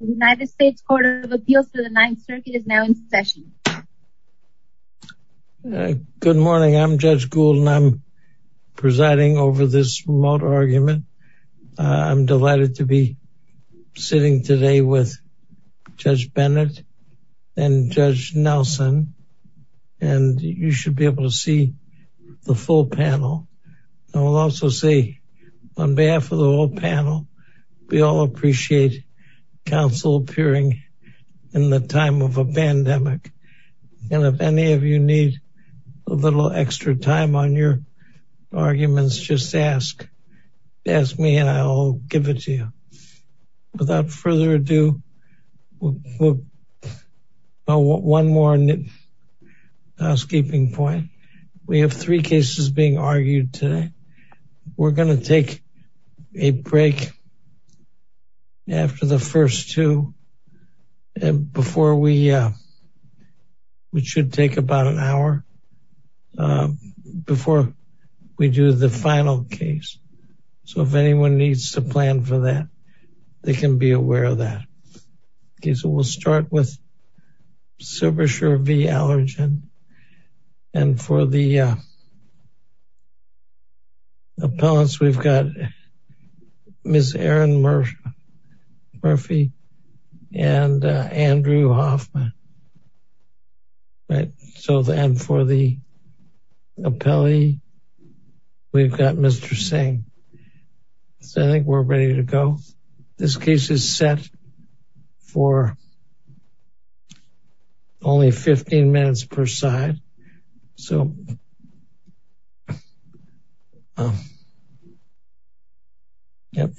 United States Court of Appeals to the Ninth Circuit is now in session. Good morning. I'm Judge Gould and I'm presiding over this remote argument. I'm delighted to be sitting today with Judge Bennett and Judge Nelson. And you should be able to see the full panel. I will also say on behalf of the whole panel, we all appreciate counsel appearing in the time of a pandemic. And if any of you need a little extra time on your arguments, just ask. Ask me and I'll give it to you. Without further ado, one more housekeeping point. We have three cases being argued today. We're going to take a break after the first two. And before we we should take about an hour before we do the final case. So if anyone needs to plan for that, they can be aware of that. We'll start with Silbersher v. Allergan. And for the appellants, we've got Ms. Erin Murphy and Andrew Hoffman. And for the appellee, we've got Mr. Singh. So I think we're ready to go. This case is set for only 15 minutes per side.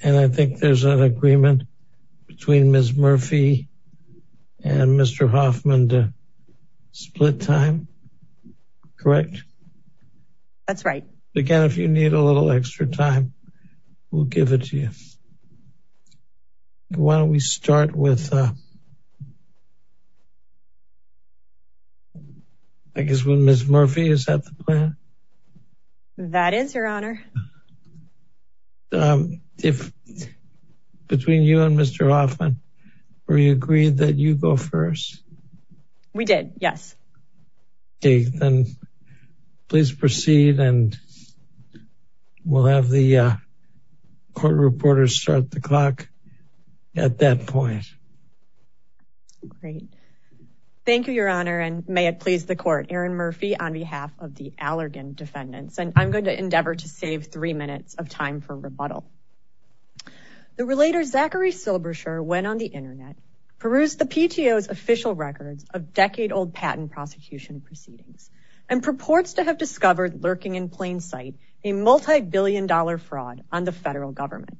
And I think there's an agreement between Ms. Murphy and Mr. Hoffman to split time. Correct? That's right. Again, if you need a little extra time, we'll give it to you. Why don't we start with, I guess with Ms. Murphy. Is that the plan? That is, Your Honor. Between you and Mr. Hoffman, were you agreed that you go first? We did, yes. Okay, then please proceed and we'll have the court reporters start the clock at that point. Great. Thank you, Your Honor, and may it please the court. Erin Murphy on behalf of the Allergan defendants. And I'm going to endeavor to save three minutes of time for rebuttal. The relator Zachary Silberscher went on the internet, perused the PTO's official records of decade-old patent prosecution proceedings, and purports to have discovered lurking in plain sight a multibillion-dollar fraud on the federal government.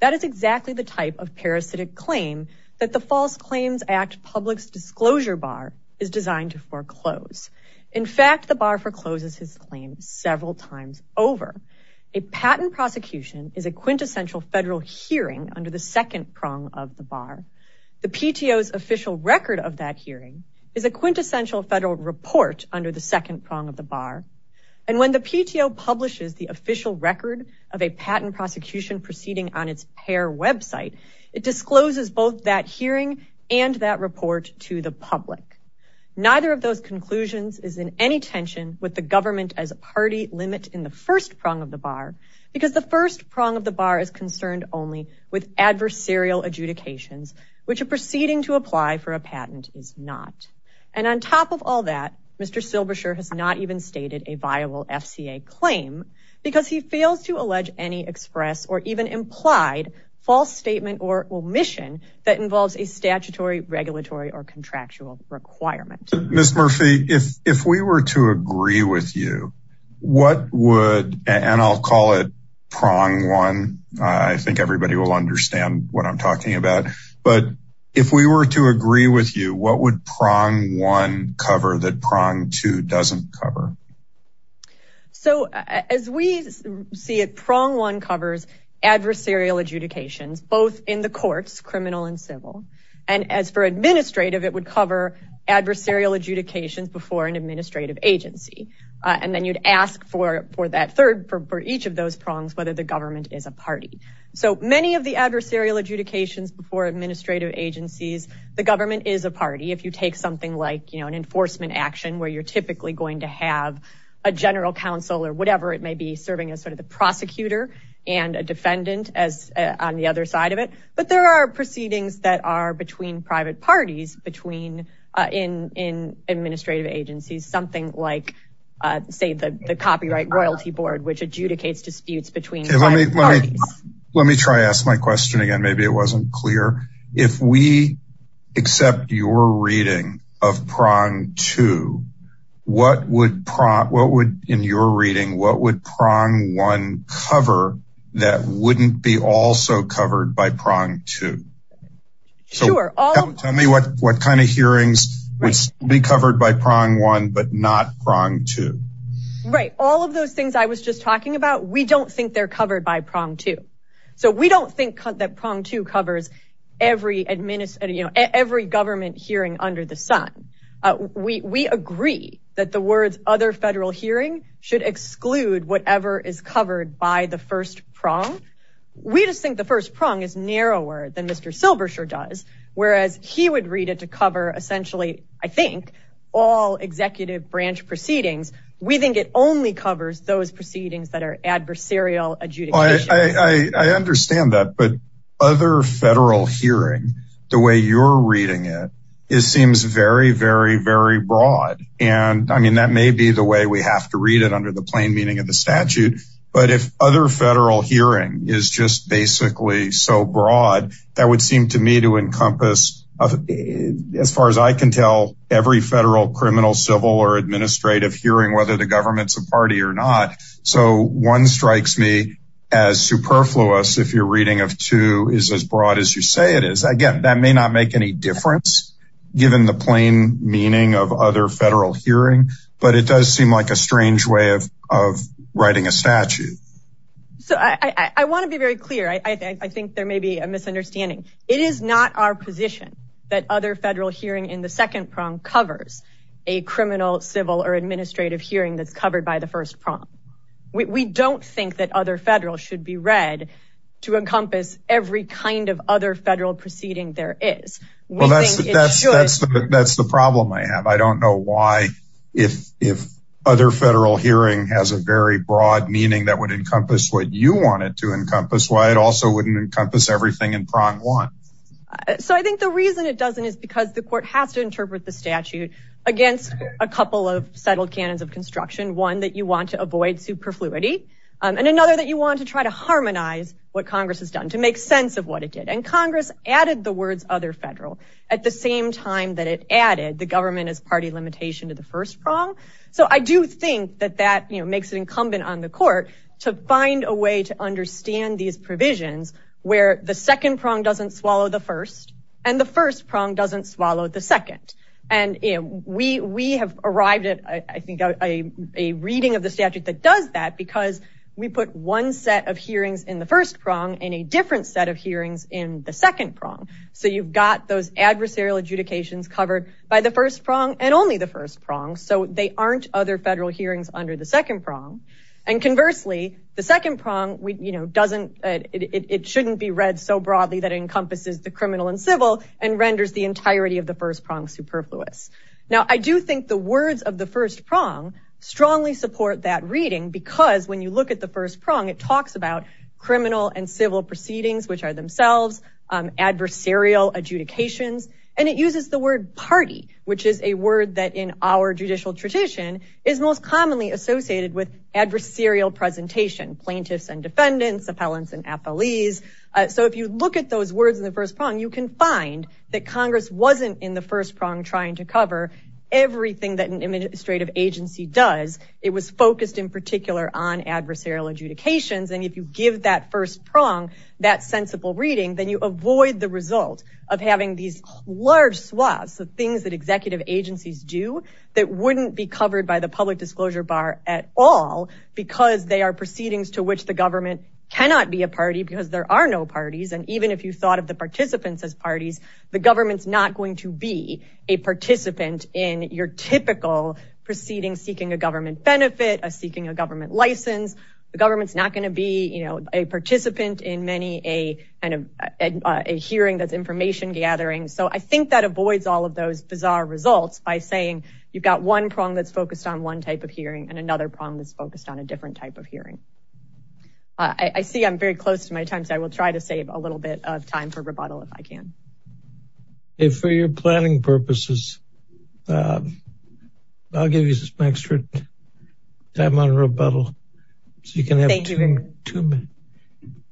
That is exactly the type of parasitic claim that the False Claims Act public's disclosure bar is designed to foreclose. In fact, the bar forecloses his claim several times over. A patent prosecution is a quintessential federal hearing under the second prong of the bar. The PTO's official record of that hearing is a quintessential federal report under the second prong of the bar. And when the PTO publishes the official record of a patent prosecution proceeding on its pair website, it discloses both that hearing and that report to the public. Neither of those conclusions is in any tension with the government as a party limit in the first prong of the bar, because the first prong of the bar is concerned only with adversarial adjudications, which a proceeding to apply for a patent is not. And on top of all that, Mr. Silberscher has not even stated a viable FCA claim, because he fails to allege any express or even implied false statement or omission that involves a statutory, regulatory, or contractual requirement. Ms. Murphy, if we were to agree with you, what would, and I'll call it prong one, I think everybody will understand what I'm talking about, but if we were to agree with you, what would prong one cover that prong two doesn't cover? So as we see it, prong one covers adversarial adjudications, both in the courts, criminal and civil. And as for administrative, it would cover adversarial adjudications before an administrative agency. And then you'd ask for that third, for each of those prongs, whether the government is a party. So many of the adversarial adjudications before administrative agencies, the government is a party. If you take something like, you know, an enforcement action where you're typically going to have a general counsel or whatever, it may be serving as sort of the prosecutor and a defendant as on the other side of it. But there are proceedings that are between private parties, between in administrative agencies, something like, say, the copyright royalty board, which adjudicates disputes between private parties. Let me try to ask my question again. Maybe it wasn't clear. If we accept your reading of prong two, what would, in your reading, what would prong one cover that wouldn't be also covered by prong two? Sure. Tell me what kind of hearings would be covered by prong one, but not prong two. Right. All of those things I was just talking about, we don't think they're covered by prong two. So we don't think that prong two covers every government hearing under the sun. We agree that the words other federal hearing should exclude whatever is covered by the first prong. We just think the first prong is narrower than Mr. Silbershire does, whereas he would read it to cover essentially, I think, all executive branch proceedings. We think it only covers those proceedings that are adversarial. I understand that. But other federal hearing the way you're reading it is seems very, very, very broad. And I mean, that may be the way we have to read it under the plain meaning of the statute. But if other federal hearing is just basically so broad, that would seem to me to encompass, as far as I can tell, every federal criminal, civil or administrative hearing, whether the government's a party or not. So one strikes me as superfluous if you're reading of two is as broad as you say it is. Again, that may not make any difference given the plain meaning of other federal hearing, but it does seem like a strange way of writing a statute. So I want to be very clear. I think there may be a misunderstanding. It is not our position that other federal hearing in the second prong covers a criminal, civil or administrative hearing that's covered by the first prong. We don't think that other federal should be read to encompass every kind of other federal proceeding there is. Well, that's that's that's that's the problem I have. I don't know why if if other federal hearing has a very broad meaning that would encompass what you want it to encompass, why it also wouldn't encompass everything in prong one. So I think the reason it doesn't is because the court has to interpret the statute against a couple of settled canons of construction, one that you want to avoid superfluity and another that you want to try to harmonize what Congress has done to make sense of what it did. And Congress added the words other federal at the same time that it added the government as party limitation to the first prong. So I do think that that makes it incumbent on the court to find a way to understand these provisions where the second prong doesn't swallow the first and the first prong doesn't swallow the second. And we we have arrived at, I think, a reading of the statute that does that because we put one set of hearings in the first prong and a different set of hearings in the second prong. So you've got those adversarial adjudications covered by the first prong and only the first prong. So they aren't other federal hearings under the second prong. And conversely, the second prong, you know, doesn't it shouldn't be read so broadly that encompasses the criminal and civil and renders the entirety of the first prong superfluous. Now, I do think the words of the first prong strongly support that reading, because when you look at the first prong, it talks about criminal and civil proceedings, which are themselves adversarial adjudications. And it uses the word party, which is a word that in our judicial tradition is most commonly associated with adversarial presentation, plaintiffs and defendants, appellants and affilies. So if you look at those words in the first prong, you can find that Congress wasn't in the first prong trying to cover everything that an administrative agency does. It was focused in particular on adversarial adjudications. And if you give that first prong that sensible reading, then you avoid the result of having these large swaths of things that executive agencies do that wouldn't be covered by the public disclosure bar at all, because they are proceedings to which the government cannot be a party because there are no parties. And even if you thought of the participants as parties, the government's not going to be a participant in your typical proceeding, seeking a government benefit, seeking a government license. The government's not going to be a participant in many a hearing that's information gathering. So I think that avoids all of those bizarre results by saying you've got one prong that's focused on one type of hearing and another prong that's focused on a different type of hearing. I see I'm very close to my time, so I will try to save a little bit of time for rebuttal if I can. For your planning purposes, I'll give you some extra time on rebuttal. So you can have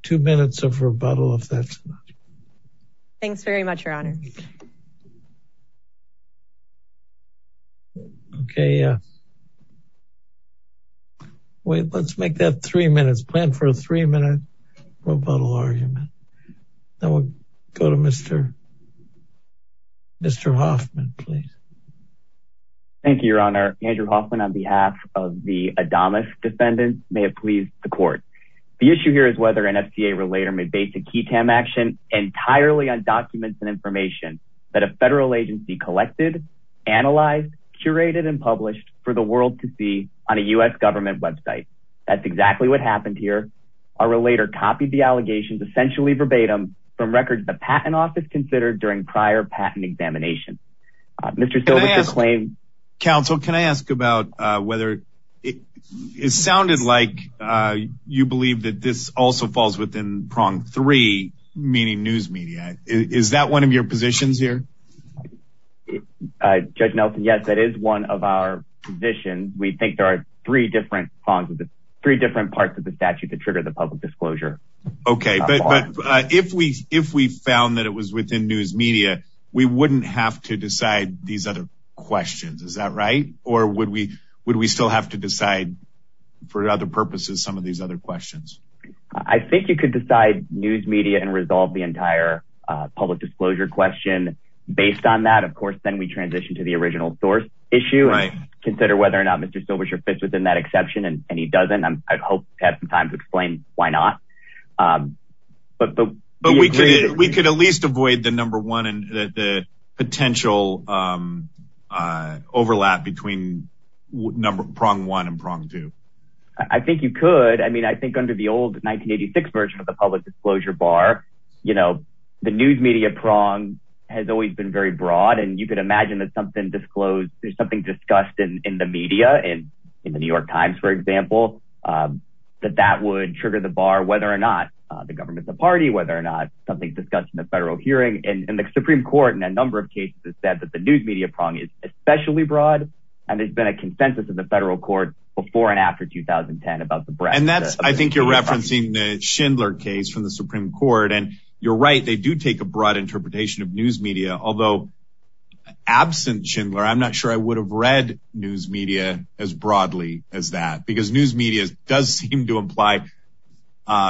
two minutes of rebuttal if that's enough. Thanks very much, Your Honor. Okay. Wait, let's make that three minutes. Plan for a three-minute rebuttal argument. Then we'll go to Mr. Hoffman, please. Thank you, Your Honor. Andrew Hoffman, on behalf of the Adamus defendants, may it please the court. The issue here is whether an FCA relater may base a key TAM action entirely on documents and information that a federal agency collected, analyzed, curated, and published for the world to see on a U.S. government website. That's exactly what happened here. Our relater copied the allegations, essentially verbatim, from records the Patent Office considered during prior patent examination. Mr. Silver, your claim? Counsel, can I ask about whether it sounded like you believe that this also falls within prong three, meaning news media. Is that one of your positions here? Judge Nelson, yes, that is one of our positions. We think there are three different parts of the statute that trigger the public disclosure. Okay, but if we found that it was within news media, we wouldn't have to decide these other questions, is that right? Or would we still have to decide for other purposes some of these other questions? I think you could decide news media and resolve the entire public disclosure question based on that. Of course, then we transition to the original source issue and consider whether or not Mr. Silvershire fits within that exception, and he doesn't. I'd hope to have some time to explain why not. But we could at least avoid the potential overlap between prong one and prong two. I think you could. I mean, I think under the old 1986 version of the public disclosure bar, the news media prong has always been very broad, and you could imagine that something disclosed, there's something discussed in the media, in the New York Times, for example, that that would trigger the bar, whether or not the government's a party, whether or not something discussed in the federal hearing. And the Supreme Court in a number of cases has said that the news media prong is especially broad, and there's been a consensus in the federal court before and after 2010 about the breadth. And that's, I think you're referencing the Schindler case from the Supreme Court. And you're right, they do take a broad interpretation of news media, although absent Schindler, I'm not sure I would have read news media as broadly as that, because news media does seem to imply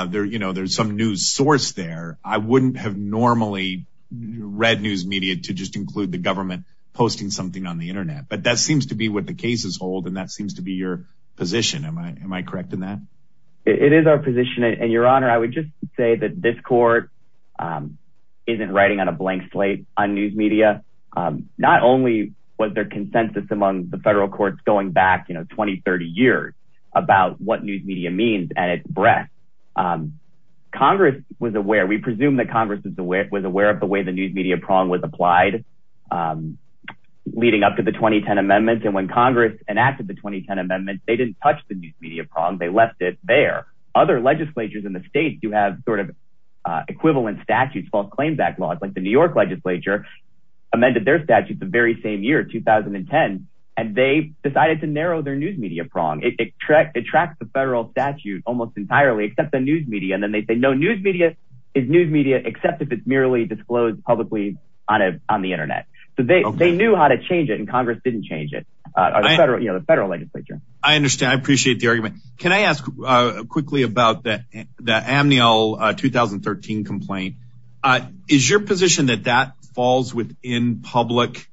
there's some news source there. I wouldn't have normally read news media to just include the government posting something on the Internet. But that seems to be what the cases hold, and that seems to be your position. Am I correct in that? It is our position, and, Your Honor, I would just say that this court isn't writing on a blank slate on news media. Not only was there consensus among the federal courts going back, you know, 20, 30 years about what news media means and its breadth. Congress was aware, we presume that Congress was aware of the way the news media prong was applied leading up to the 2010 amendments. And when Congress enacted the 2010 amendments, they didn't touch the news media prong. They left it there. Other legislatures in the states do have sort of equivalent statutes, false claim backlogs. Like the New York legislature amended their statute the very same year, 2010, and they decided to narrow their news media prong. It tracks the federal statute almost entirely except the news media. And then they say no news media is news media except if it's merely disclosed publicly on the Internet. So they knew how to change it, and Congress didn't change it, you know, the federal legislature. I understand. I appreciate the argument. Can I ask quickly about the Amnial 2013 complaint? Is your position that that falls within public,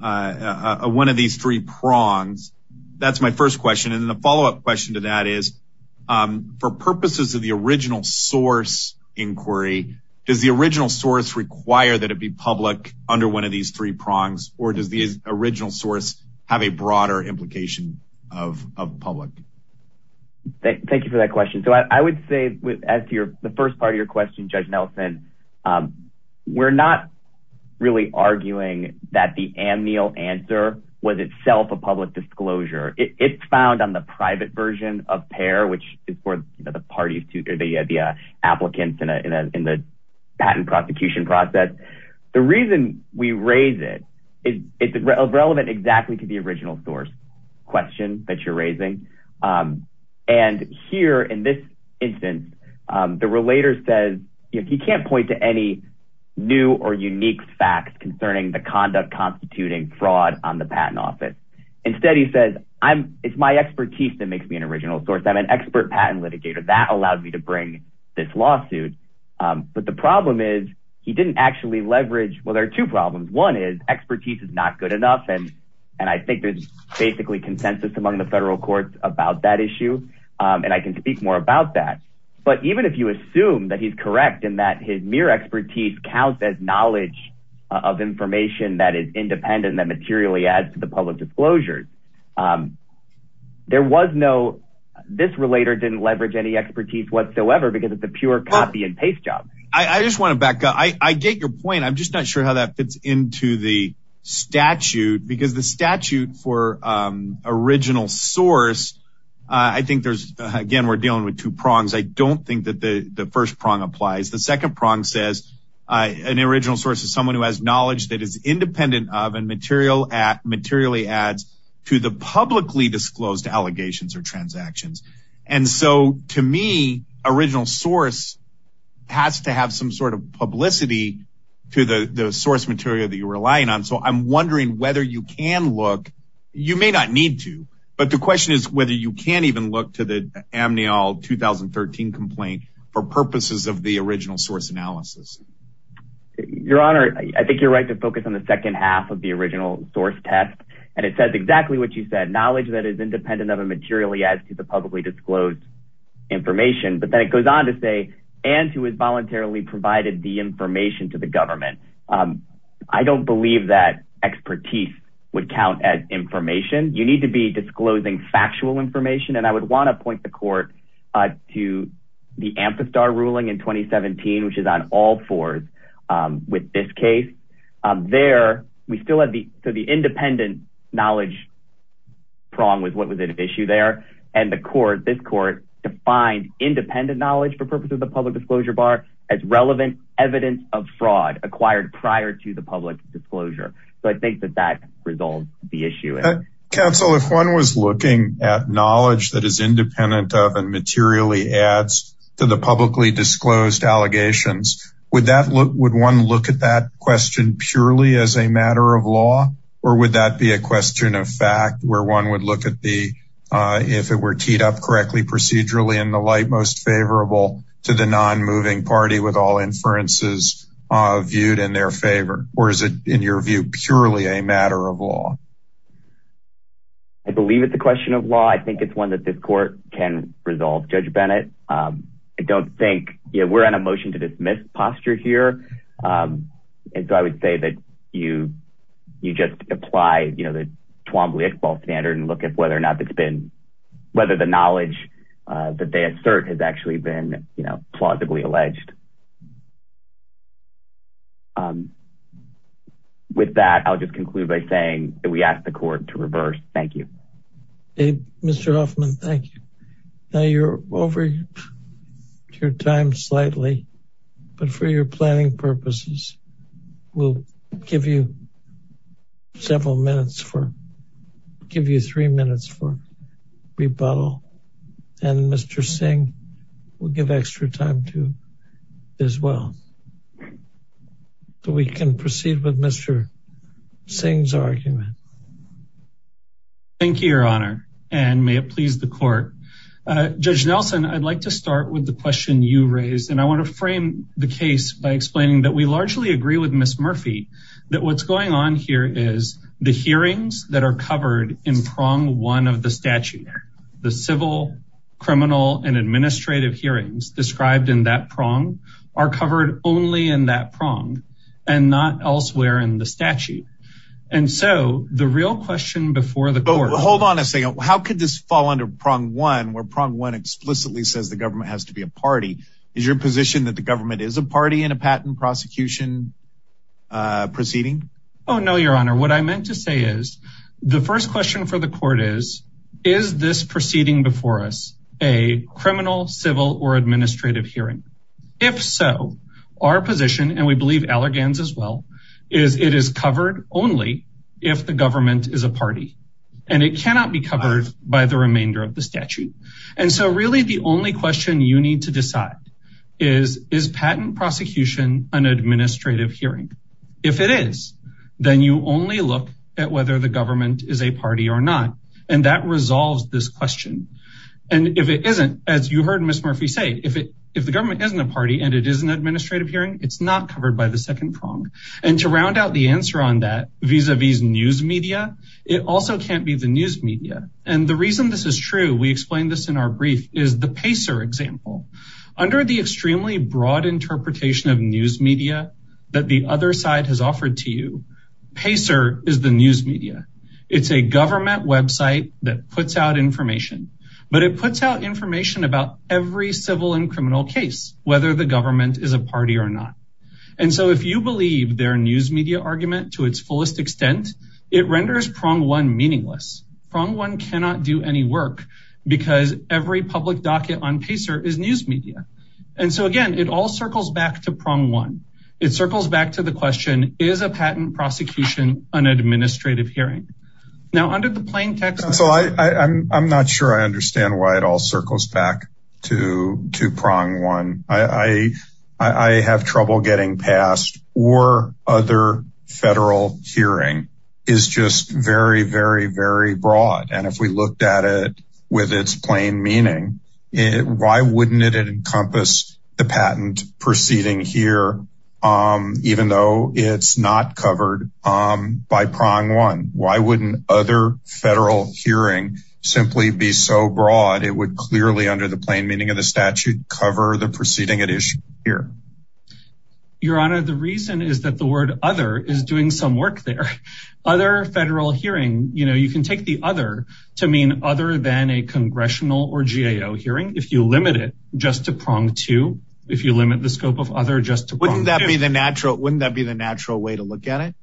one of these three prongs? That's my first question, and the follow-up question to that is for purposes of the original source inquiry, does the original source require that it be public under one of these three prongs, or does the original source have a broader implication of public? Thank you for that question. So I would say as to the first part of your question, Judge Nelson, we're not really arguing that the Amnial answer was itself a public disclosure. It's found on the private version of PAIR, which is for the parties to the applicants in the patent prosecution process. The reason we raise it is it's relevant exactly to the original source question that you're raising. And here in this instance, the relator says he can't point to any new or unique facts concerning the conduct constituting fraud on the patent office. Instead, he says it's my expertise that makes me an original source. I'm an expert patent litigator. That allowed me to bring this lawsuit. But the problem is he didn't actually leverage – well, there are two problems. One is expertise is not good enough, and I think there's basically consensus among the federal courts about that issue, and I can speak more about that. But even if you assume that he's correct and that his mere expertise counts as knowledge of information that is independent and that materially adds to the public disclosure, there was no – this relator didn't leverage any expertise whatsoever because it's a pure copy-and-paste job. I just want to back up. I get your point. I'm just not sure how that fits into the statute because the statute for original source, I think there's – again, we're dealing with two prongs. I don't think that the first prong applies. The second prong says an original source is someone who has knowledge that is independent of and materially adds to the publicly disclosed allegations or transactions. And so to me, original source has to have some sort of publicity to the source material that you're relying on. So I'm wondering whether you can look – you may not need to, but the question is whether you can even look to the Amnial 2013 complaint for purposes of the original source analysis. Your Honor, I think you're right to focus on the second half of the original source test, and it says exactly what you said, knowledge that is independent of and materially adds to the publicly disclosed information. But then it goes on to say, and who has voluntarily provided the information to the government. I don't believe that expertise would count as information. You need to be disclosing factual information, and I would want to point the court to the Ampistar ruling in 2017, which is on all fours with this case. There, we still have the – so the independent knowledge prong was what was at issue there, and the court – this court defined independent knowledge for purposes of the public disclosure bar as relevant evidence of fraud acquired prior to the public disclosure. So I think that that resolves the issue. Counsel, if one was looking at knowledge that is independent of and materially adds to the publicly disclosed allegations, would that – would one look at that question purely as a matter of law, or would that be a question of fact where one would look at the – if it were teed up correctly procedurally in the light most favorable to the non-moving party with all inferences viewed in their favor? Or is it, in your view, purely a matter of law? I believe it's a question of law. I think it's one that this court can resolve, Judge Bennett. I don't think – we're on a motion to dismiss posture here, and so I would say that you just apply the Twombly-Iqbal standard and look at whether or not it's been – whether the knowledge that they assert has actually been plausibly alleged. With that, I'll just conclude by saying that we ask the court to reverse. Thank you. Mr. Hoffman, thank you. Now you're over your time slightly, but for your planning purposes, we'll give you several minutes for – give you three minutes for rebuttal, and Mr. Singh will give extra time to as well. So we can proceed with Mr. Singh's argument. Thank you, Your Honor, and may it please the court. Judge Nelson, I'd like to start with the question you raised, and I want to frame the case by explaining that we largely agree with Ms. Murphy that what's going on here is the hearings that are covered in prong one of the statute, the civil, criminal, and administrative hearings described in that prong are covered only in that prong and not elsewhere in the statute. And so the real question before the court – Hold on a second. How could this fall under prong one where prong one explicitly says the government has to be a party? Is your position that the government is a party in a patent prosecution proceeding? Oh, no, Your Honor. What I meant to say is the first question for the court is, is this proceeding before us a criminal, civil, or administrative hearing? If so, our position, and we believe Allergan's as well, is it is covered only if the government is a party, and it cannot be covered by the remainder of the statute. And so really the only question you need to decide is, is patent prosecution an administrative hearing? If it is, then you only look at whether the government is a party or not, and that resolves this question. And if it isn't, as you heard Ms. Murphy say, if the government isn't a party and it is an administrative hearing, it's not covered by the second prong. And to round out the answer on that vis-à-vis news media, it also can't be the news media. And the reason this is true, we explained this in our brief, is the Pacer example. Under the extremely broad interpretation of news media that the other side has offered to you, Pacer is the news media. It's a government website that puts out information, but it puts out information about every civil and criminal case, whether the government is a party or not. And so if you believe their news media argument to its fullest extent, it renders prong one meaningless. Prong one cannot do any work, because every public docket on Pacer is news media. And so, again, it all circles back to prong one. It circles back to the question, is a patent prosecution an administrative hearing? Now, under the plain text of this – So I'm not sure I understand why it all circles back to prong one. I have trouble getting past, or other federal hearing is just very, very, very broad. And if we looked at it with its plain meaning, why wouldn't it encompass the patent proceeding here, even though it's not covered by prong one? Why wouldn't other federal hearing simply be so broad? It would clearly, under the plain meaning of the statute, cover the proceeding at issue here. Your Honor, the reason is that the word other is doing some work there. Other federal hearing, you know, you can take the other to mean other than a congressional or GAO hearing, if you limit it just to prong two, if you limit the scope of other just to prong two. Wouldn't that be the natural way to look at it?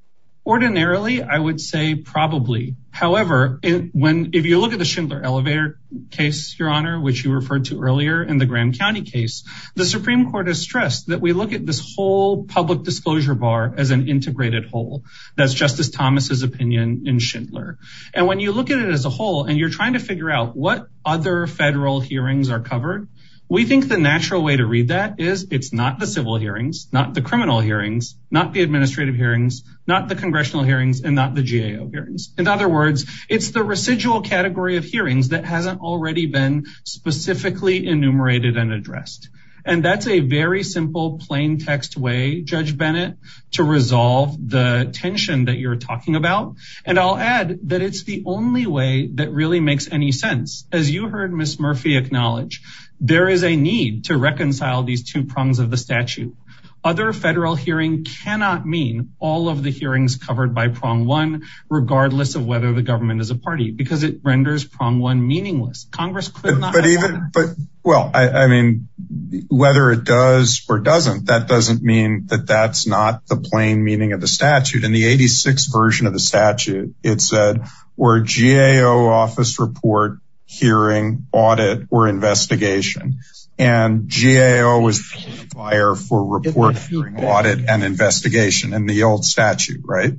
Ordinarily, I would say probably. However, if you look at the Schindler elevator case, Your Honor, which you referred to earlier in the Graham County case, the Supreme Court has stressed that we look at this whole public disclosure bar as an integrated whole. That's Justice Thomas's opinion in Schindler. And when you look at it as a whole, and you're trying to figure out what other federal hearings are covered, we think the natural way to read that is it's not the civil hearings, not the criminal hearings, not the administrative hearings, not the congressional hearings, and not the GAO hearings. In other words, it's the residual category of hearings that hasn't already been specifically enumerated and addressed. And that's a very simple plain text way, Judge Bennett, to resolve the tension that you're talking about. And I'll add that it's the only way that really makes any sense. As you heard Ms. Murphy acknowledge, there is a need to reconcile these two prongs of the statute. Other federal hearing cannot mean all of the hearings covered by prong one, regardless of whether the government is a party, because it renders prong one meaningless. But even, but, well, I mean, whether it does or doesn't, that doesn't mean that that's not the plain meaning of the statute. In the 86 version of the statute, it said where GAO office report, hearing, audit, or investigation. And GAO was for audit and investigation and the old statute, right?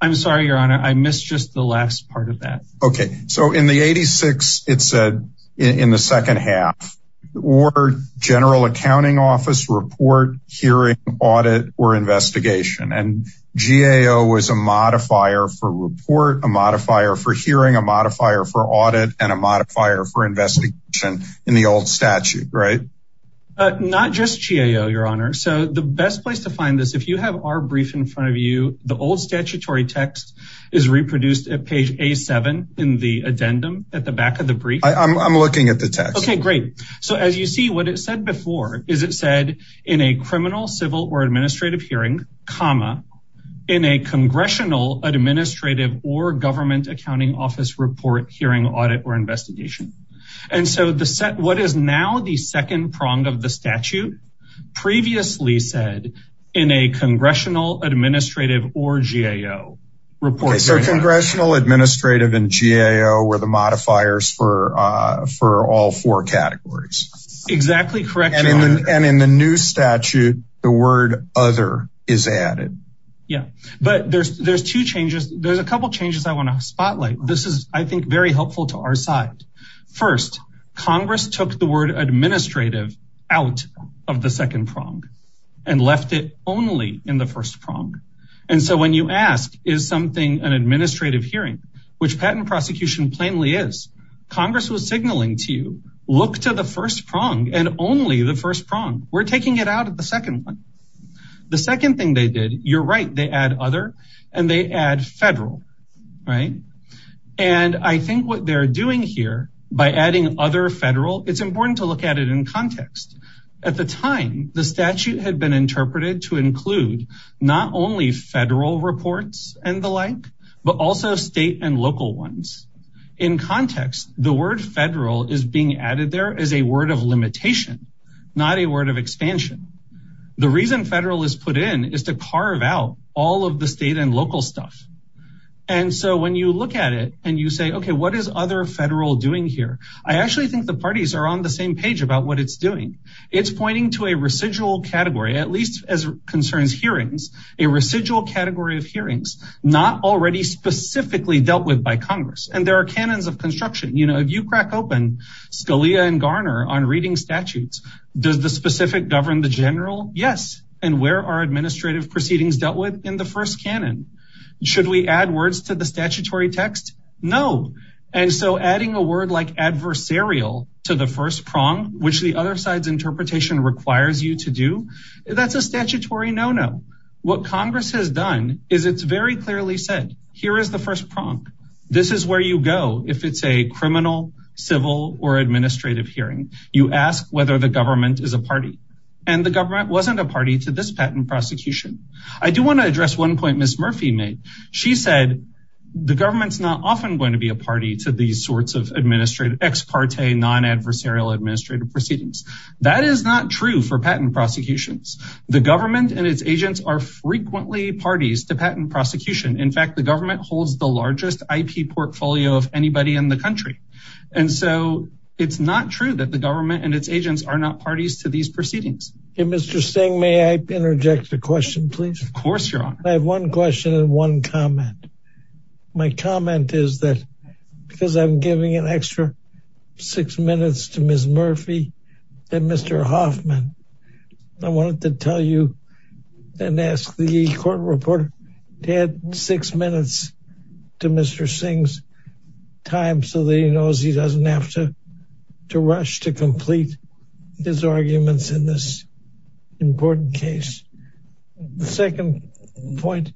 I'm sorry, Your Honor. I missed just the last part of that. Okay. So in the 86, it said in the second half, or general accounting office report, hearing, audit, or investigation. And GAO was a modifier for report, a modifier for hearing, a modifier for audit and a modifier for investigation in the old statute, right? Not just GAO, Your Honor. So the best place to find this, if you have our brief in front of you, the old statutory text is reproduced at page A7 in the addendum at the back of the brief. I'm looking at the text. Okay, great. So as you see what it said before, is it said in a criminal civil or administrative hearing comma in a congressional administrative or government accounting office report, hearing, audit, or investigation. And so the set, what is now the second prong of the statute previously said in a congressional administrative or GAO report. So congressional administrative and GAO were the modifiers for, for all four categories. Exactly correct. And in the new statute, the word other is added. Yeah, but there's, there's two changes. There's a couple of changes I want to spotlight. This is I think very helpful to our side. First Congress took the word administrative out of the second prong and left it only in the first prong. And so when you ask is something an administrative hearing, which patent prosecution plainly is Congress was signaling to you, look to the first prong and only the first prong. We're taking it out of the second one. The second thing they did. You're right. They add other and they add federal. Right. And I think what they're doing here by adding other federal, it's important to look at it in context. At the time, the statute had been interpreted to include not only federal reports and the like, but also state and local ones. In context, the word federal is being added there as a word of limitation, not a word of expansion. The reason federal is put in is to carve out all of the state and local stuff. And so when you look at it and you say, okay, what is other federal doing here? I actually think the parties are on the same page about what it's doing. It's pointing to a residual category, at least as concerns hearings, a residual category of hearings, not already specifically dealt with by Congress. And there are canons of construction. You know, if you crack open Scalia and Garner on reading statutes, does the specific govern the general? Yes. And where are administrative proceedings dealt with in the first canon? Should we add words to the statutory text? No. And so adding a word like adversarial to the first prong, which the other side's interpretation requires you to do, that's a statutory. No, no. What Congress has done is it's very clearly said, here is the first prong. This is where you go. If it's a criminal civil or administrative hearing, you ask whether the government is a party. And the government wasn't a party to this patent prosecution. I do want to address one point. Ms. Murphy made, she said the government's not often going to be a party to these sorts of administrative ex parte, non-adversarial administrative proceedings. That is not true for patent prosecutions. The government and its agents are frequently parties to patent prosecution. In fact, the government holds the largest IP portfolio of anybody in the country. And so it's not true that the government and its agents are not parties to these proceedings. Mr. Singh, may I interject a question, please? Of course. I have one question and one comment. My comment is that because I'm giving an extra six minutes to Ms. Murphy, that Mr. Hoffman, I wanted to tell you and ask the court reporter. He had six minutes to Mr. Singh's time so that he knows he doesn't have to, to rush, to complete his arguments in this important case. The second point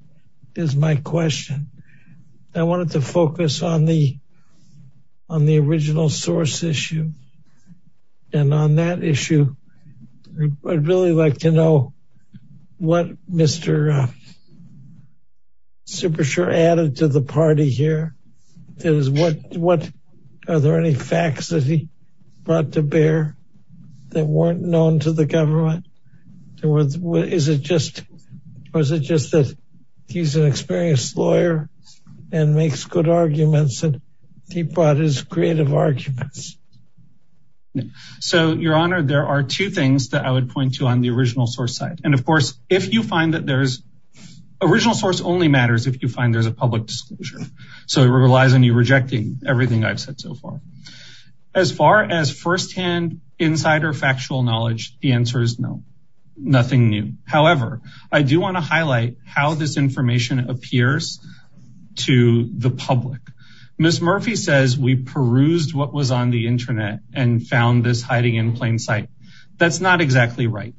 is my question. I wanted to focus on the, on the original source issue. And on that issue, I'd really like to know what Mr. Super sure added to the party here. It was what, what are there any facts that he brought to bear that weren't known to the government? Is it just, or is it just that he's an experienced lawyer and makes good arguments that he brought his creative arguments? So your honor, there are two things that I would point to on the original source site. And of course, if you find that there's original source only matters, if you find there's a public disclosure. So it relies on you rejecting everything I've said so far, as far as firsthand insider factual knowledge, the answer is no. Nothing new. However, I do want to highlight how this information appears to the public. Ms. Murphy says we perused what was on the internet and found this hiding in plain sight. That's not exactly right.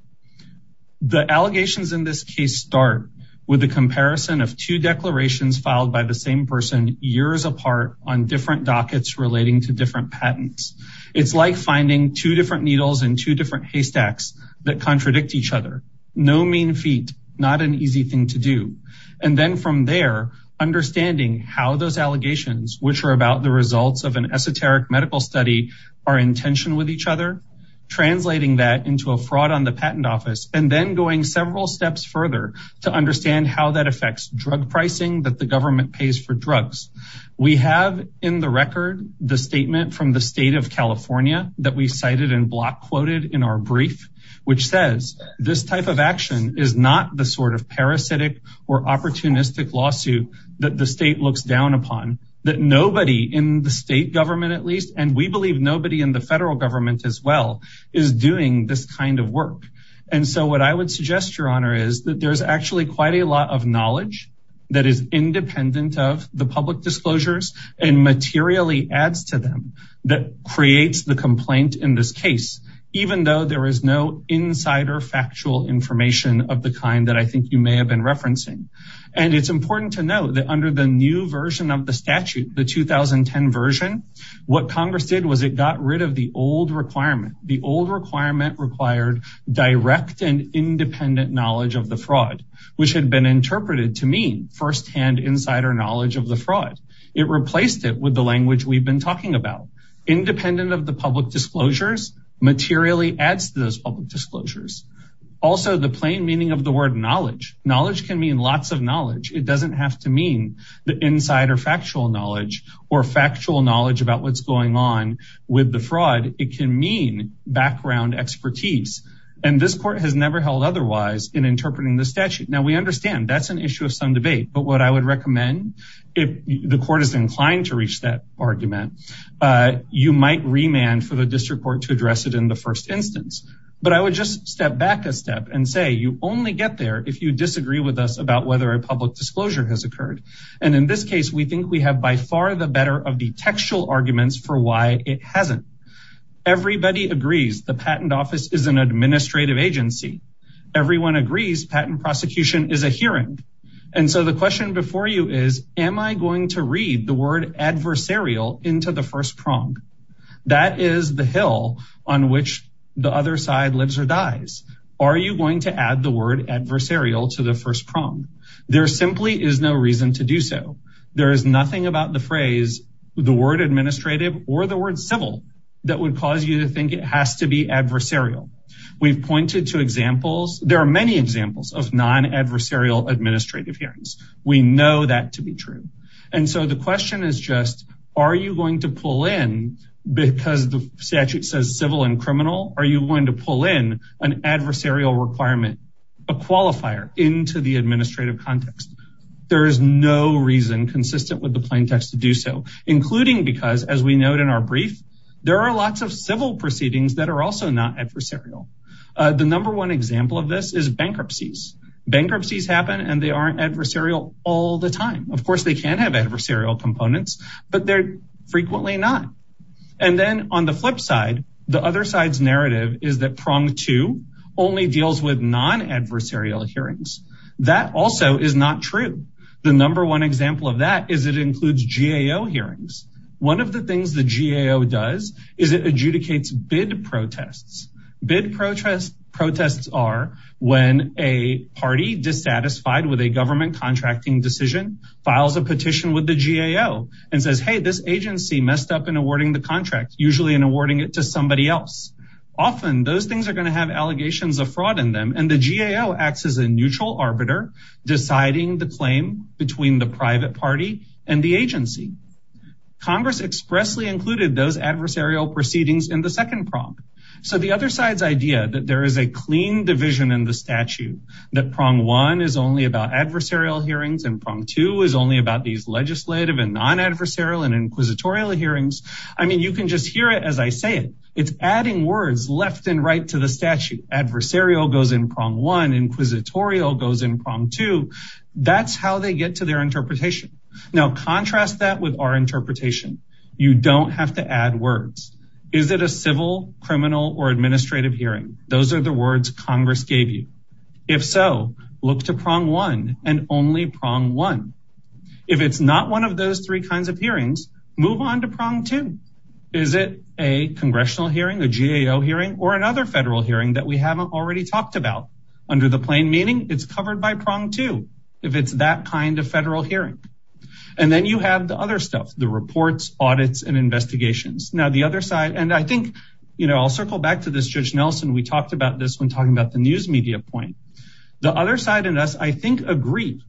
The allegations in this case start with the comparison of two declarations filed by the same person years apart on different dockets relating to different patents. It's like finding two different needles and two different haystacks that contradict each other. No mean feat, not an easy thing to do. And then from there, understanding how those allegations, which are about the results of an esoteric medical study are intention with each other, translating that into a fraud on the patent office, and then going several steps further to understand how that affects drug pricing, that the government pays for drugs. We have in the record, the statement from the state of California that we cited and block quoted in our brief, which says this type of action is not the sort of parasitic or opportunistic lawsuit that the state looks down upon that nobody in the state government, at least, and we believe nobody in the federal government as well is doing this kind of work. And so what I would suggest your honor is that there's actually quite a lot of knowledge that is independent of the public disclosures and materially adds to them that creates the complaint in this case, even though there is no insider factual information of the kind that I think you may have been referencing. And it's important to know that under the new version of the statute, the 2010 version, what Congress did was it got rid of the old requirement. The old requirement required direct and independent knowledge of the fraud, which had been interpreted to mean firsthand insider knowledge of the fraud. It replaced it with the language we've been talking about independent of the materially adds to those public disclosures. Also the plain meaning of the word knowledge, knowledge can mean lots of knowledge. It doesn't have to mean the insider factual knowledge or factual knowledge about what's going on with the fraud. It can mean background expertise. And this court has never held otherwise in interpreting the statute. Now we understand that's an issue of some debate, but what I would recommend if the court is inclined to reach that argument, you might remand for the district court to address it in the first instance, but I would just step back a step and say, you only get there if you disagree with us about whether a public disclosure has occurred. And in this case, we think we have by far the better of the textual arguments for why it hasn't everybody agrees. The patent office is an administrative agency. Everyone agrees patent prosecution is a hearing. And so the question before you is, am I going to read the word adversarial into the first prong? That is the hill on which the other side lives or dies. Are you going to add the word adversarial to the first prong? There simply is no reason to do so. There is nothing about the phrase, the word administrative or the word civil that would cause you to think it has to be adversarial. We've pointed to examples. There are many examples of non-adversarial administrative hearings. We know that to be true. And so the question is just, are you going to pull in because the statute says civil and criminal, are you going to pull in an adversarial requirement, a qualifier into the administrative context? There is no reason consistent with the plain text to do so, including because as we note in our brief, there are lots of civil proceedings that are also not adversarial. The number one example of this is bankruptcies. Bankruptcies happen and they aren't adversarial all the time. Of course they can have adversarial components, but they're frequently not. And then on the flip side, the other side's narrative is that prong two only deals with non-adversarial hearings. That also is not true. The number one example of that is it includes GAO hearings. One of the things the GAO does is it adjudicates bid protests. Bid protests are when a party dissatisfied with a government contracting decision files a petition with the GAO and says, Hey, this agency messed up in awarding the contract, usually in awarding it to somebody else. Often those things are going to have allegations of fraud in them. And the GAO acts as a neutral arbiter, deciding the claim between the private party and the agency. Congress expressly included those adversarial proceedings in the second prong. So the other side's idea that there is a clean division in the statute, that prong one is only about adversarial hearings and prong two is only about these legislative and non-adversarial and inquisitorial hearings. I mean, you can just hear it as I say it. It's adding words left and right to the statute. Adversarial goes in prong one, inquisitorial goes in prong two. That's how they get to their interpretation. Now contrast that with our interpretation. You don't have to add words. Is it a civil criminal or administrative hearing? Those are the words Congress gave you. If so look to prong one and only prong one. If it's not one of those three kinds of hearings, move on to prong two. Is it a congressional hearing, a GAO hearing, or another federal hearing that we haven't already talked about under the plain meaning it's covered by prong two. If it's that kind of federal hearing. And then you have the other stuff, the reports, audits, and investigations. Now the other side, and I think, you know, I'll circle back to this Judge Nelson. We talked about this when talking about the news media point. The other side in us, I think, agreed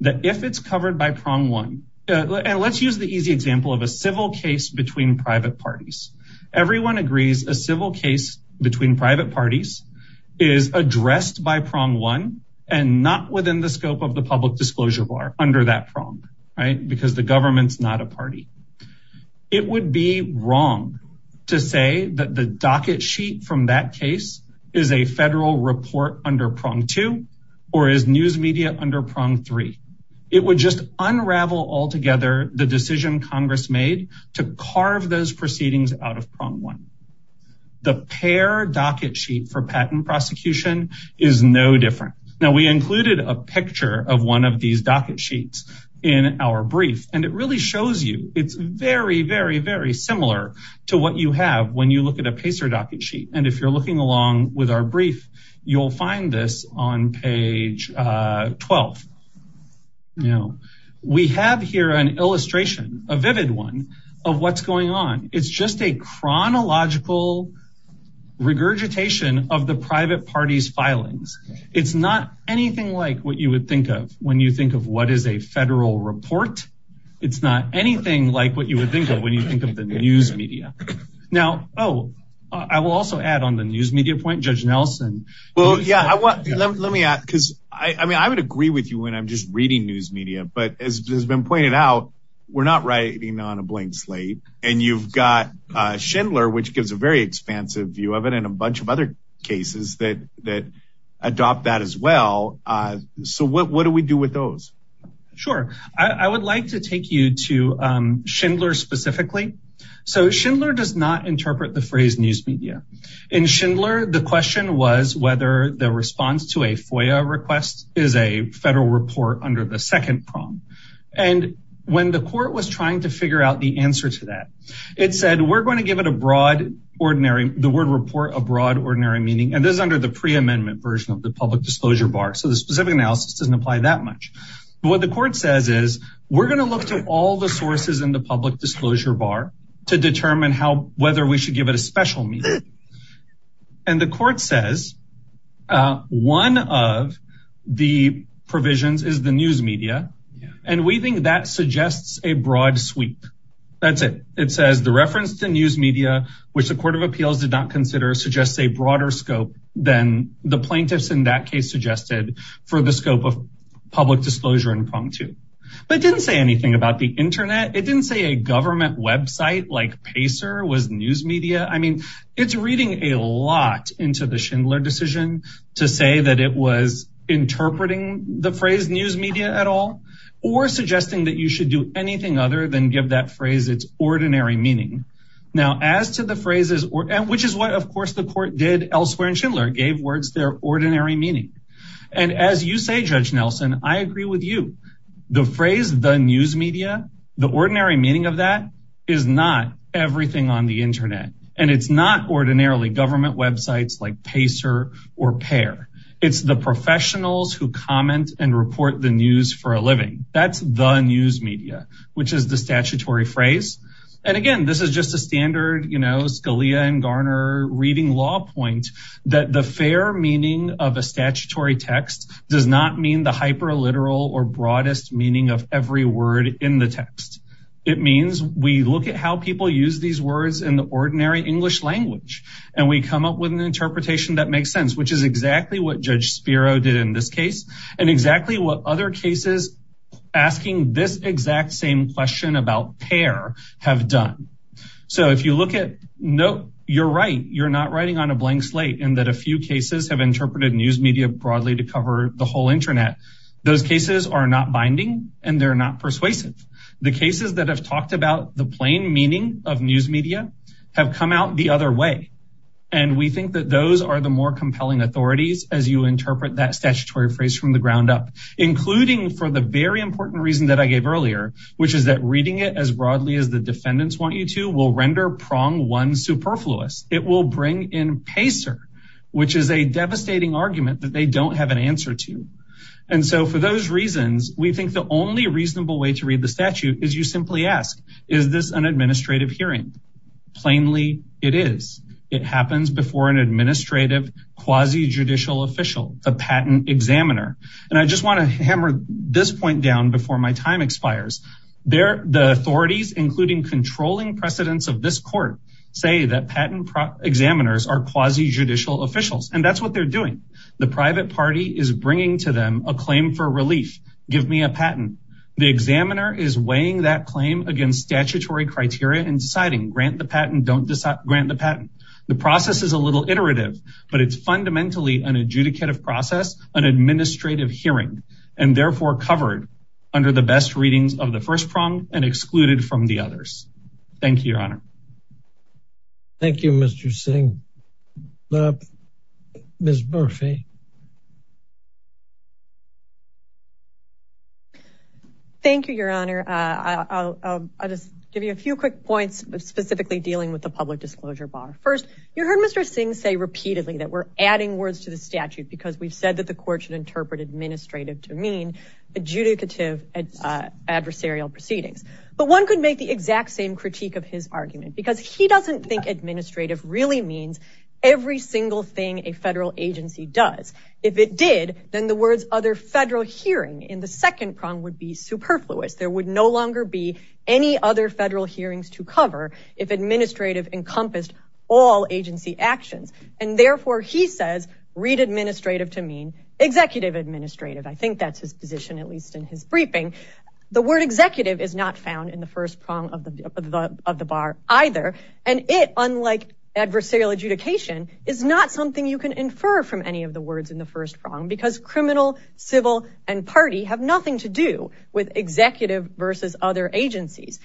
that if it's covered by prong one. And let's use the easy example of a civil case between private parties. Everyone agrees a civil case between private parties is addressed by prong one and not within the scope of the public disclosure bar under that prong. Right. Because the government's not a party. It would be wrong to say that the docket sheet from that case is a federal report under prong two or is news media under prong three. It would just unravel altogether. The decision Congress made to carve those proceedings out of prong one. The pair docket sheet for patent prosecution is no different. Now we included a picture of one of these docket sheets in our brief, and it really shows you it's very, very, very similar to what you have when you look at a pacer docket sheet. And if you're looking along with our brief, you'll find this on page 12. Now we have here an illustration, a vivid one of what's going on. It's just a chronological regurgitation of the private parties filings. It's not anything like what you would think of when you think of what is a It's not anything like what you would think of when you think of the news media. Now. Oh, I will also add on the news media point judge Nelson. Well, yeah, I want, let me ask. Cause I mean, I would agree with you when I'm just reading news media, but as has been pointed out, we're not writing on a blank slate. And you've got a Schindler, which gives a very expansive view of it and a bunch of other cases that, that adopt that as well. So what, what do we do with those? Sure. I would like to take you to Schindler specifically. So Schindler does not interpret the phrase news media in Schindler. The question was whether the response to a FOIA request is a federal report under the second prong. And when the court was trying to figure out the answer to that, it said, we're going to give it a broad, ordinary, the word report, a broad ordinary meaning. And this is under the pre-amendment version of the public disclosure bar. So the specific analysis doesn't apply that much, but what the court says is we're going to look to all the sources in the public disclosure bar to determine how, whether we should give it a special meaning. And the court says one of the provisions is the news media. And we think that suggests a broad sweep. That's it. It says the reference to news media, which the court of appeals did not consider suggests a broader scope than the plaintiffs in that case suggested for the scope of public disclosure and prong too. But it didn't say anything about the internet. It didn't say a government website like Pacer was news media. I mean, it's reading a lot into the Schindler decision to say that it was interpreting the phrase news media at all, or suggesting that you should do anything other than give that phrase it's ordinary meaning. Now as to the phrases, Which is what of course the court did elsewhere in Schindler gave words, their ordinary meaning. And as you say, judge Nelson, I agree with you. The phrase, the news media, the ordinary meaning of that is not everything on the internet. And it's not ordinarily government websites like Pacer or pair. It's the professionals who comment and report the news for a living. That's the news media, which is the statutory phrase. And again, this is just a standard, you know, Scalia and Garner reading law point that the fair meaning of a statutory text does not mean the hyper literal or broadest meaning of every word in the text. It means we look at how people use these words in the ordinary English language. And we come up with an interpretation that makes sense, which is exactly what judge Spiro did in this case. And exactly what other cases. Asking this exact same question about pair have done. So if you look at note, you're right. You're not writing on a blank slate and that a few cases have interpreted news media broadly to cover the whole internet. Those cases are not binding and they're not persuasive. The cases that have talked about the plain meaning of news media have come out the other way. And we think that those are the more compelling authorities as you interpret that statutory phrase from the ground up, including for the very important reason that I gave earlier, which is that reading it as broadly as the defendants want you to will render prong one superfluous. It will bring in pacer, which is a devastating argument that they don't have an answer to. And so for those reasons, we think the only reasonable way to read the statute is you simply ask, is this an administrative hearing? Plainly it is. It happens before an administrative quasi judicial official, a patent examiner. And I just want to hammer this point down before my time expires there. The authorities, including controlling precedents of this court say that patent examiners are quasi judicial officials and that's what they're doing. The private party is bringing to them a claim for relief. Give me a patent. The examiner is weighing that claim against statutory criteria and deciding grant the patent. Don't grant the patent. The process is a little iterative, but it's fundamentally an adjudicative process, an administrative hearing and therefore covered under the best readings of the first prong and excluded from the others. Thank you, your honor. Thank you, Mr. Singh. Ms. Murphy. Thank you, your honor. I'll just give you a few quick points specifically dealing with the public disclosure bar. First you heard Mr. Singh say repeatedly that we're adding words to the statute because we've heard that the court should interpret administrative to mean adjudicative adversarial proceedings, but one could make the exact same critique of his argument because he doesn't think administrative really means every single thing a federal agency does. If it did, then the words other federal hearing in the second prong would be superfluous. There would no longer be any other federal hearings to cover if administrative encompassed all agency actions. And therefore he says read administrative to mean executive administrative. I think that's his position, at least in his briefing, the word executive is not found in the first prong of the, of the bar either. And it, unlike adversarial adjudication is not something you can infer from any of the words in the first prong because criminal civil and party have nothing to do with executive versus other agencies.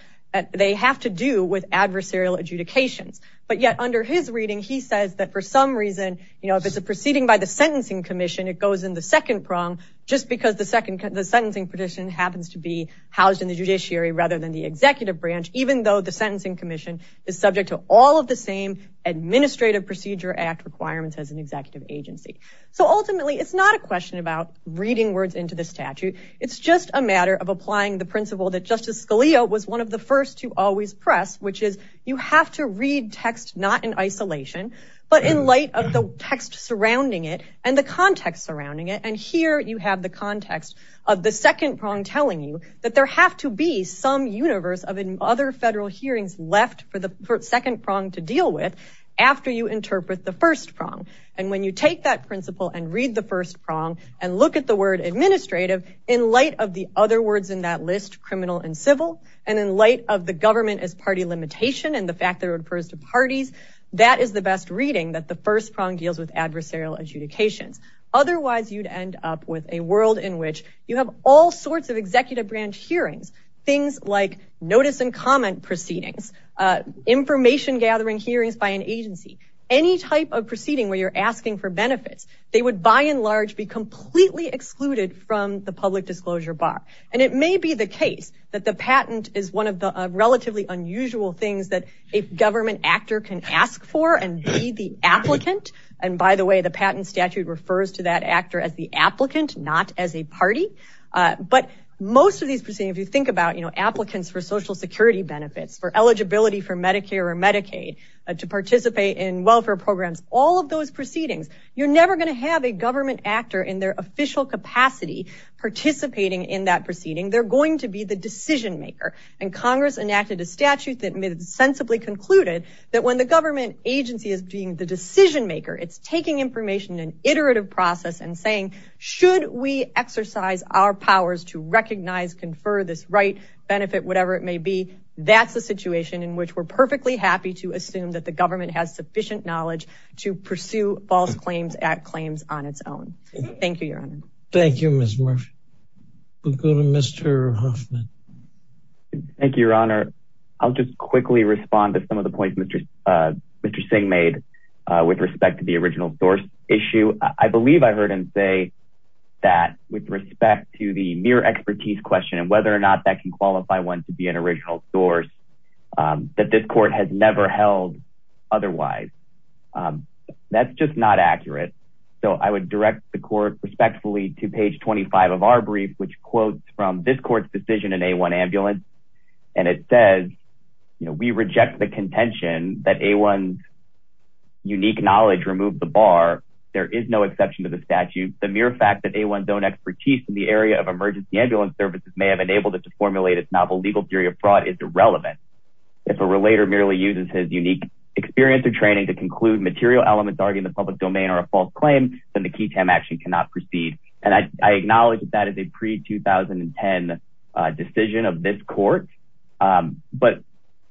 They have to do with adversarial adjudications, but yet under his reading, he says that for some reason, you know, if it's a proceeding by the sentencing commission, it goes in the second prong just because the second, the sentencing petition happens to be housed in the judiciary rather than the executive branch, even though the sentencing commission is subject to all of the same administrative procedure act requirements as an executive agency. So ultimately it's not a question about reading words into the statute. It's just a matter of applying the principle that justice Scalia was one of the first to always press, which is you have to read text, not in isolation, but in light of the text surrounding it and the context surrounding it. And here you have the context of the second prong telling you that there have to be some universe of other federal hearings left for the second prong to deal with after you interpret the first prong. And when you take that principle and read the first prong and look at the word administrative in light of the other words in that list, criminal and civil, and in light of the government as party limitation, and the fact that it refers to parties, that is the best reading that the first prong deals with adversarial adjudications. Otherwise you'd end up with a world in which you have all sorts of executive branch hearings, things like notice and comment proceedings, information gathering hearings by an agency, any type of proceeding where you're asking for benefits, they would buy in large, be completely excluded from the public disclosure bar. And it may be the case that the patent is one of the relatively unusual things that a government actor can ask for and be the applicant. And by the way, the patent statute refers to that actor as the applicant, not as a party. But most of these proceedings, if you think about applicants for social security benefits, for eligibility for Medicare or Medicaid, to participate in welfare programs, all of those proceedings, you're never going to have a government actor in their official capacity participating in that proceeding. They're going to be the decision maker. And Congress enacted a statute that made sensibly concluded that when the government agency is being the decision maker, it's taking information and iterative process and saying, should we exercise our powers to recognize, confer this right benefit, whatever it may be. That's the situation in which we're perfectly happy to assume that the government has sufficient knowledge to pursue false claims at claims on its own. Thank you, Your Honor. Thank you, Ms. Murphy. We'll go to Mr. Hoffman. Thank you, Your Honor. I'll just quickly respond to some of the points Mr. Singh made with respect to the original source issue. I believe I heard him say that with respect to the mere expertise question and whether or not that can qualify one to be an original source, that this court has never held otherwise. That's just not accurate. So I would direct the court respectfully to page 25 of our brief, which quotes from this court's decision in a one ambulance. And it says, you know, we reject the contention that a one unique knowledge removed the bar. There is no exception to the statute. The mere fact that a one zone expertise in the area of emergency ambulance services may have enabled it to formulate its novel legal theory of fraud is irrelevant. If a relator merely uses his unique experience or training to conclude that material elements argue in the public domain or a false claim, then the key time action cannot proceed. And I acknowledge that as a pre 2010 decision of this court, but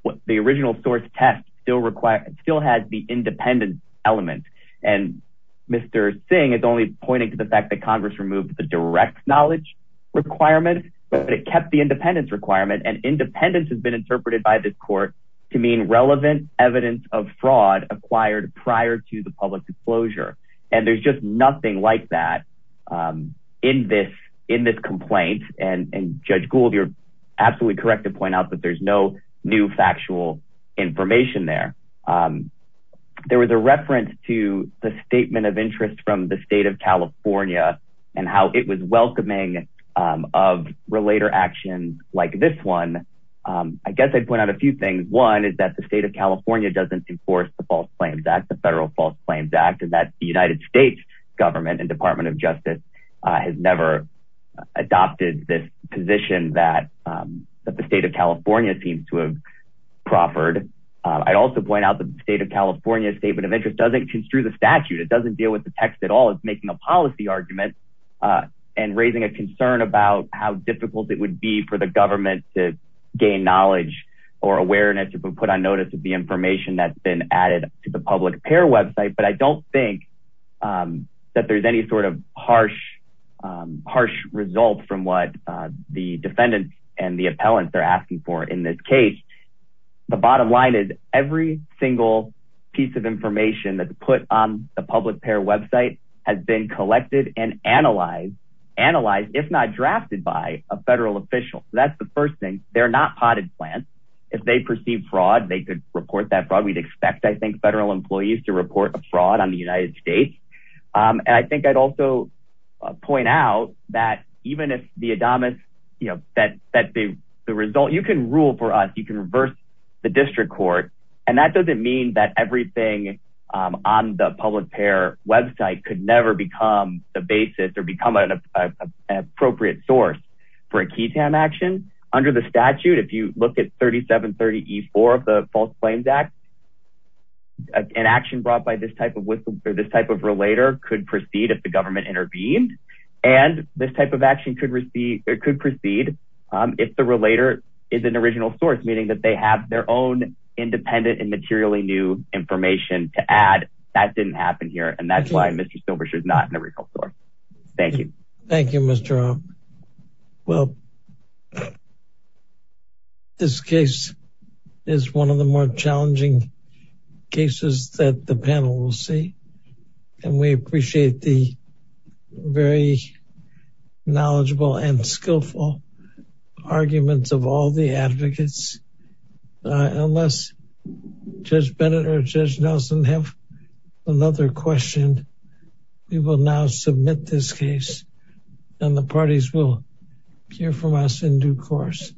what the original source test still require still has the independent element. And Mr. Singh is only pointing to the fact that Congress removed the direct knowledge requirement, but it kept the independence requirement and independence has been interpreted by this court to mean relevant evidence of fraud acquired prior to the public disclosure. And there's just nothing like that in this, in this complaint. And judge Gould, you're absolutely correct to point out that there's no new factual information there. There was a reference to the statement of interest from the state of California and how it was welcoming of relator actions like this one. I guess I'd point out a few things. One is that the state of California doesn't enforce the false claims act, the federal false claims act, and that the United States government and department of justice has never adopted this position that the state of California seems to have proffered. I'd also point out the state of California statement of interest doesn't construe the statute. It doesn't deal with the text at all. It's making a policy argument and raising a concern about how difficult it would be for the government to gain knowledge or awareness to be put on notice of the information that's been added to the public pair website. But I don't think that there's any sort of harsh, harsh results from what the defendants and the appellants they're asking for in this case, the bottom line is every single piece of information that's put on the public pair website has been collected and analyzed, if not drafted by a federal official. That's the first thing they're not potted plants. If they perceive fraud, they could report that fraud. We'd expect, I think federal employees to report a fraud on the United States. And I think I'd also point out that even if the Adamus, you know, that, that the, the result, you can rule for us, you can reverse the district court. And that doesn't mean that everything on the public pair website could never become the basis or become an appropriate source for a key Tam action under the statute. If you look at 37 30 E four of the false claims act, an action brought by this type of whistle or this type of relator could proceed. If the government intervened and this type of action could receive, it could proceed. If the relator is an original source, meaning that they have their own independent and materially new information to add that didn't happen here. And that's why Mr. Silver, she's not in the retail store. Thank you. Thank you, Mr. Well, This case is one of the more challenging cases that the panel will see. And we appreciate the very knowledgeable and skillful arguments of all the We will now submit this case. And the parties will hear from us in due course.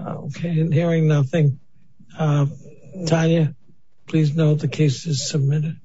Okay. And hearing nothing, Tanya, please know the case is submitted.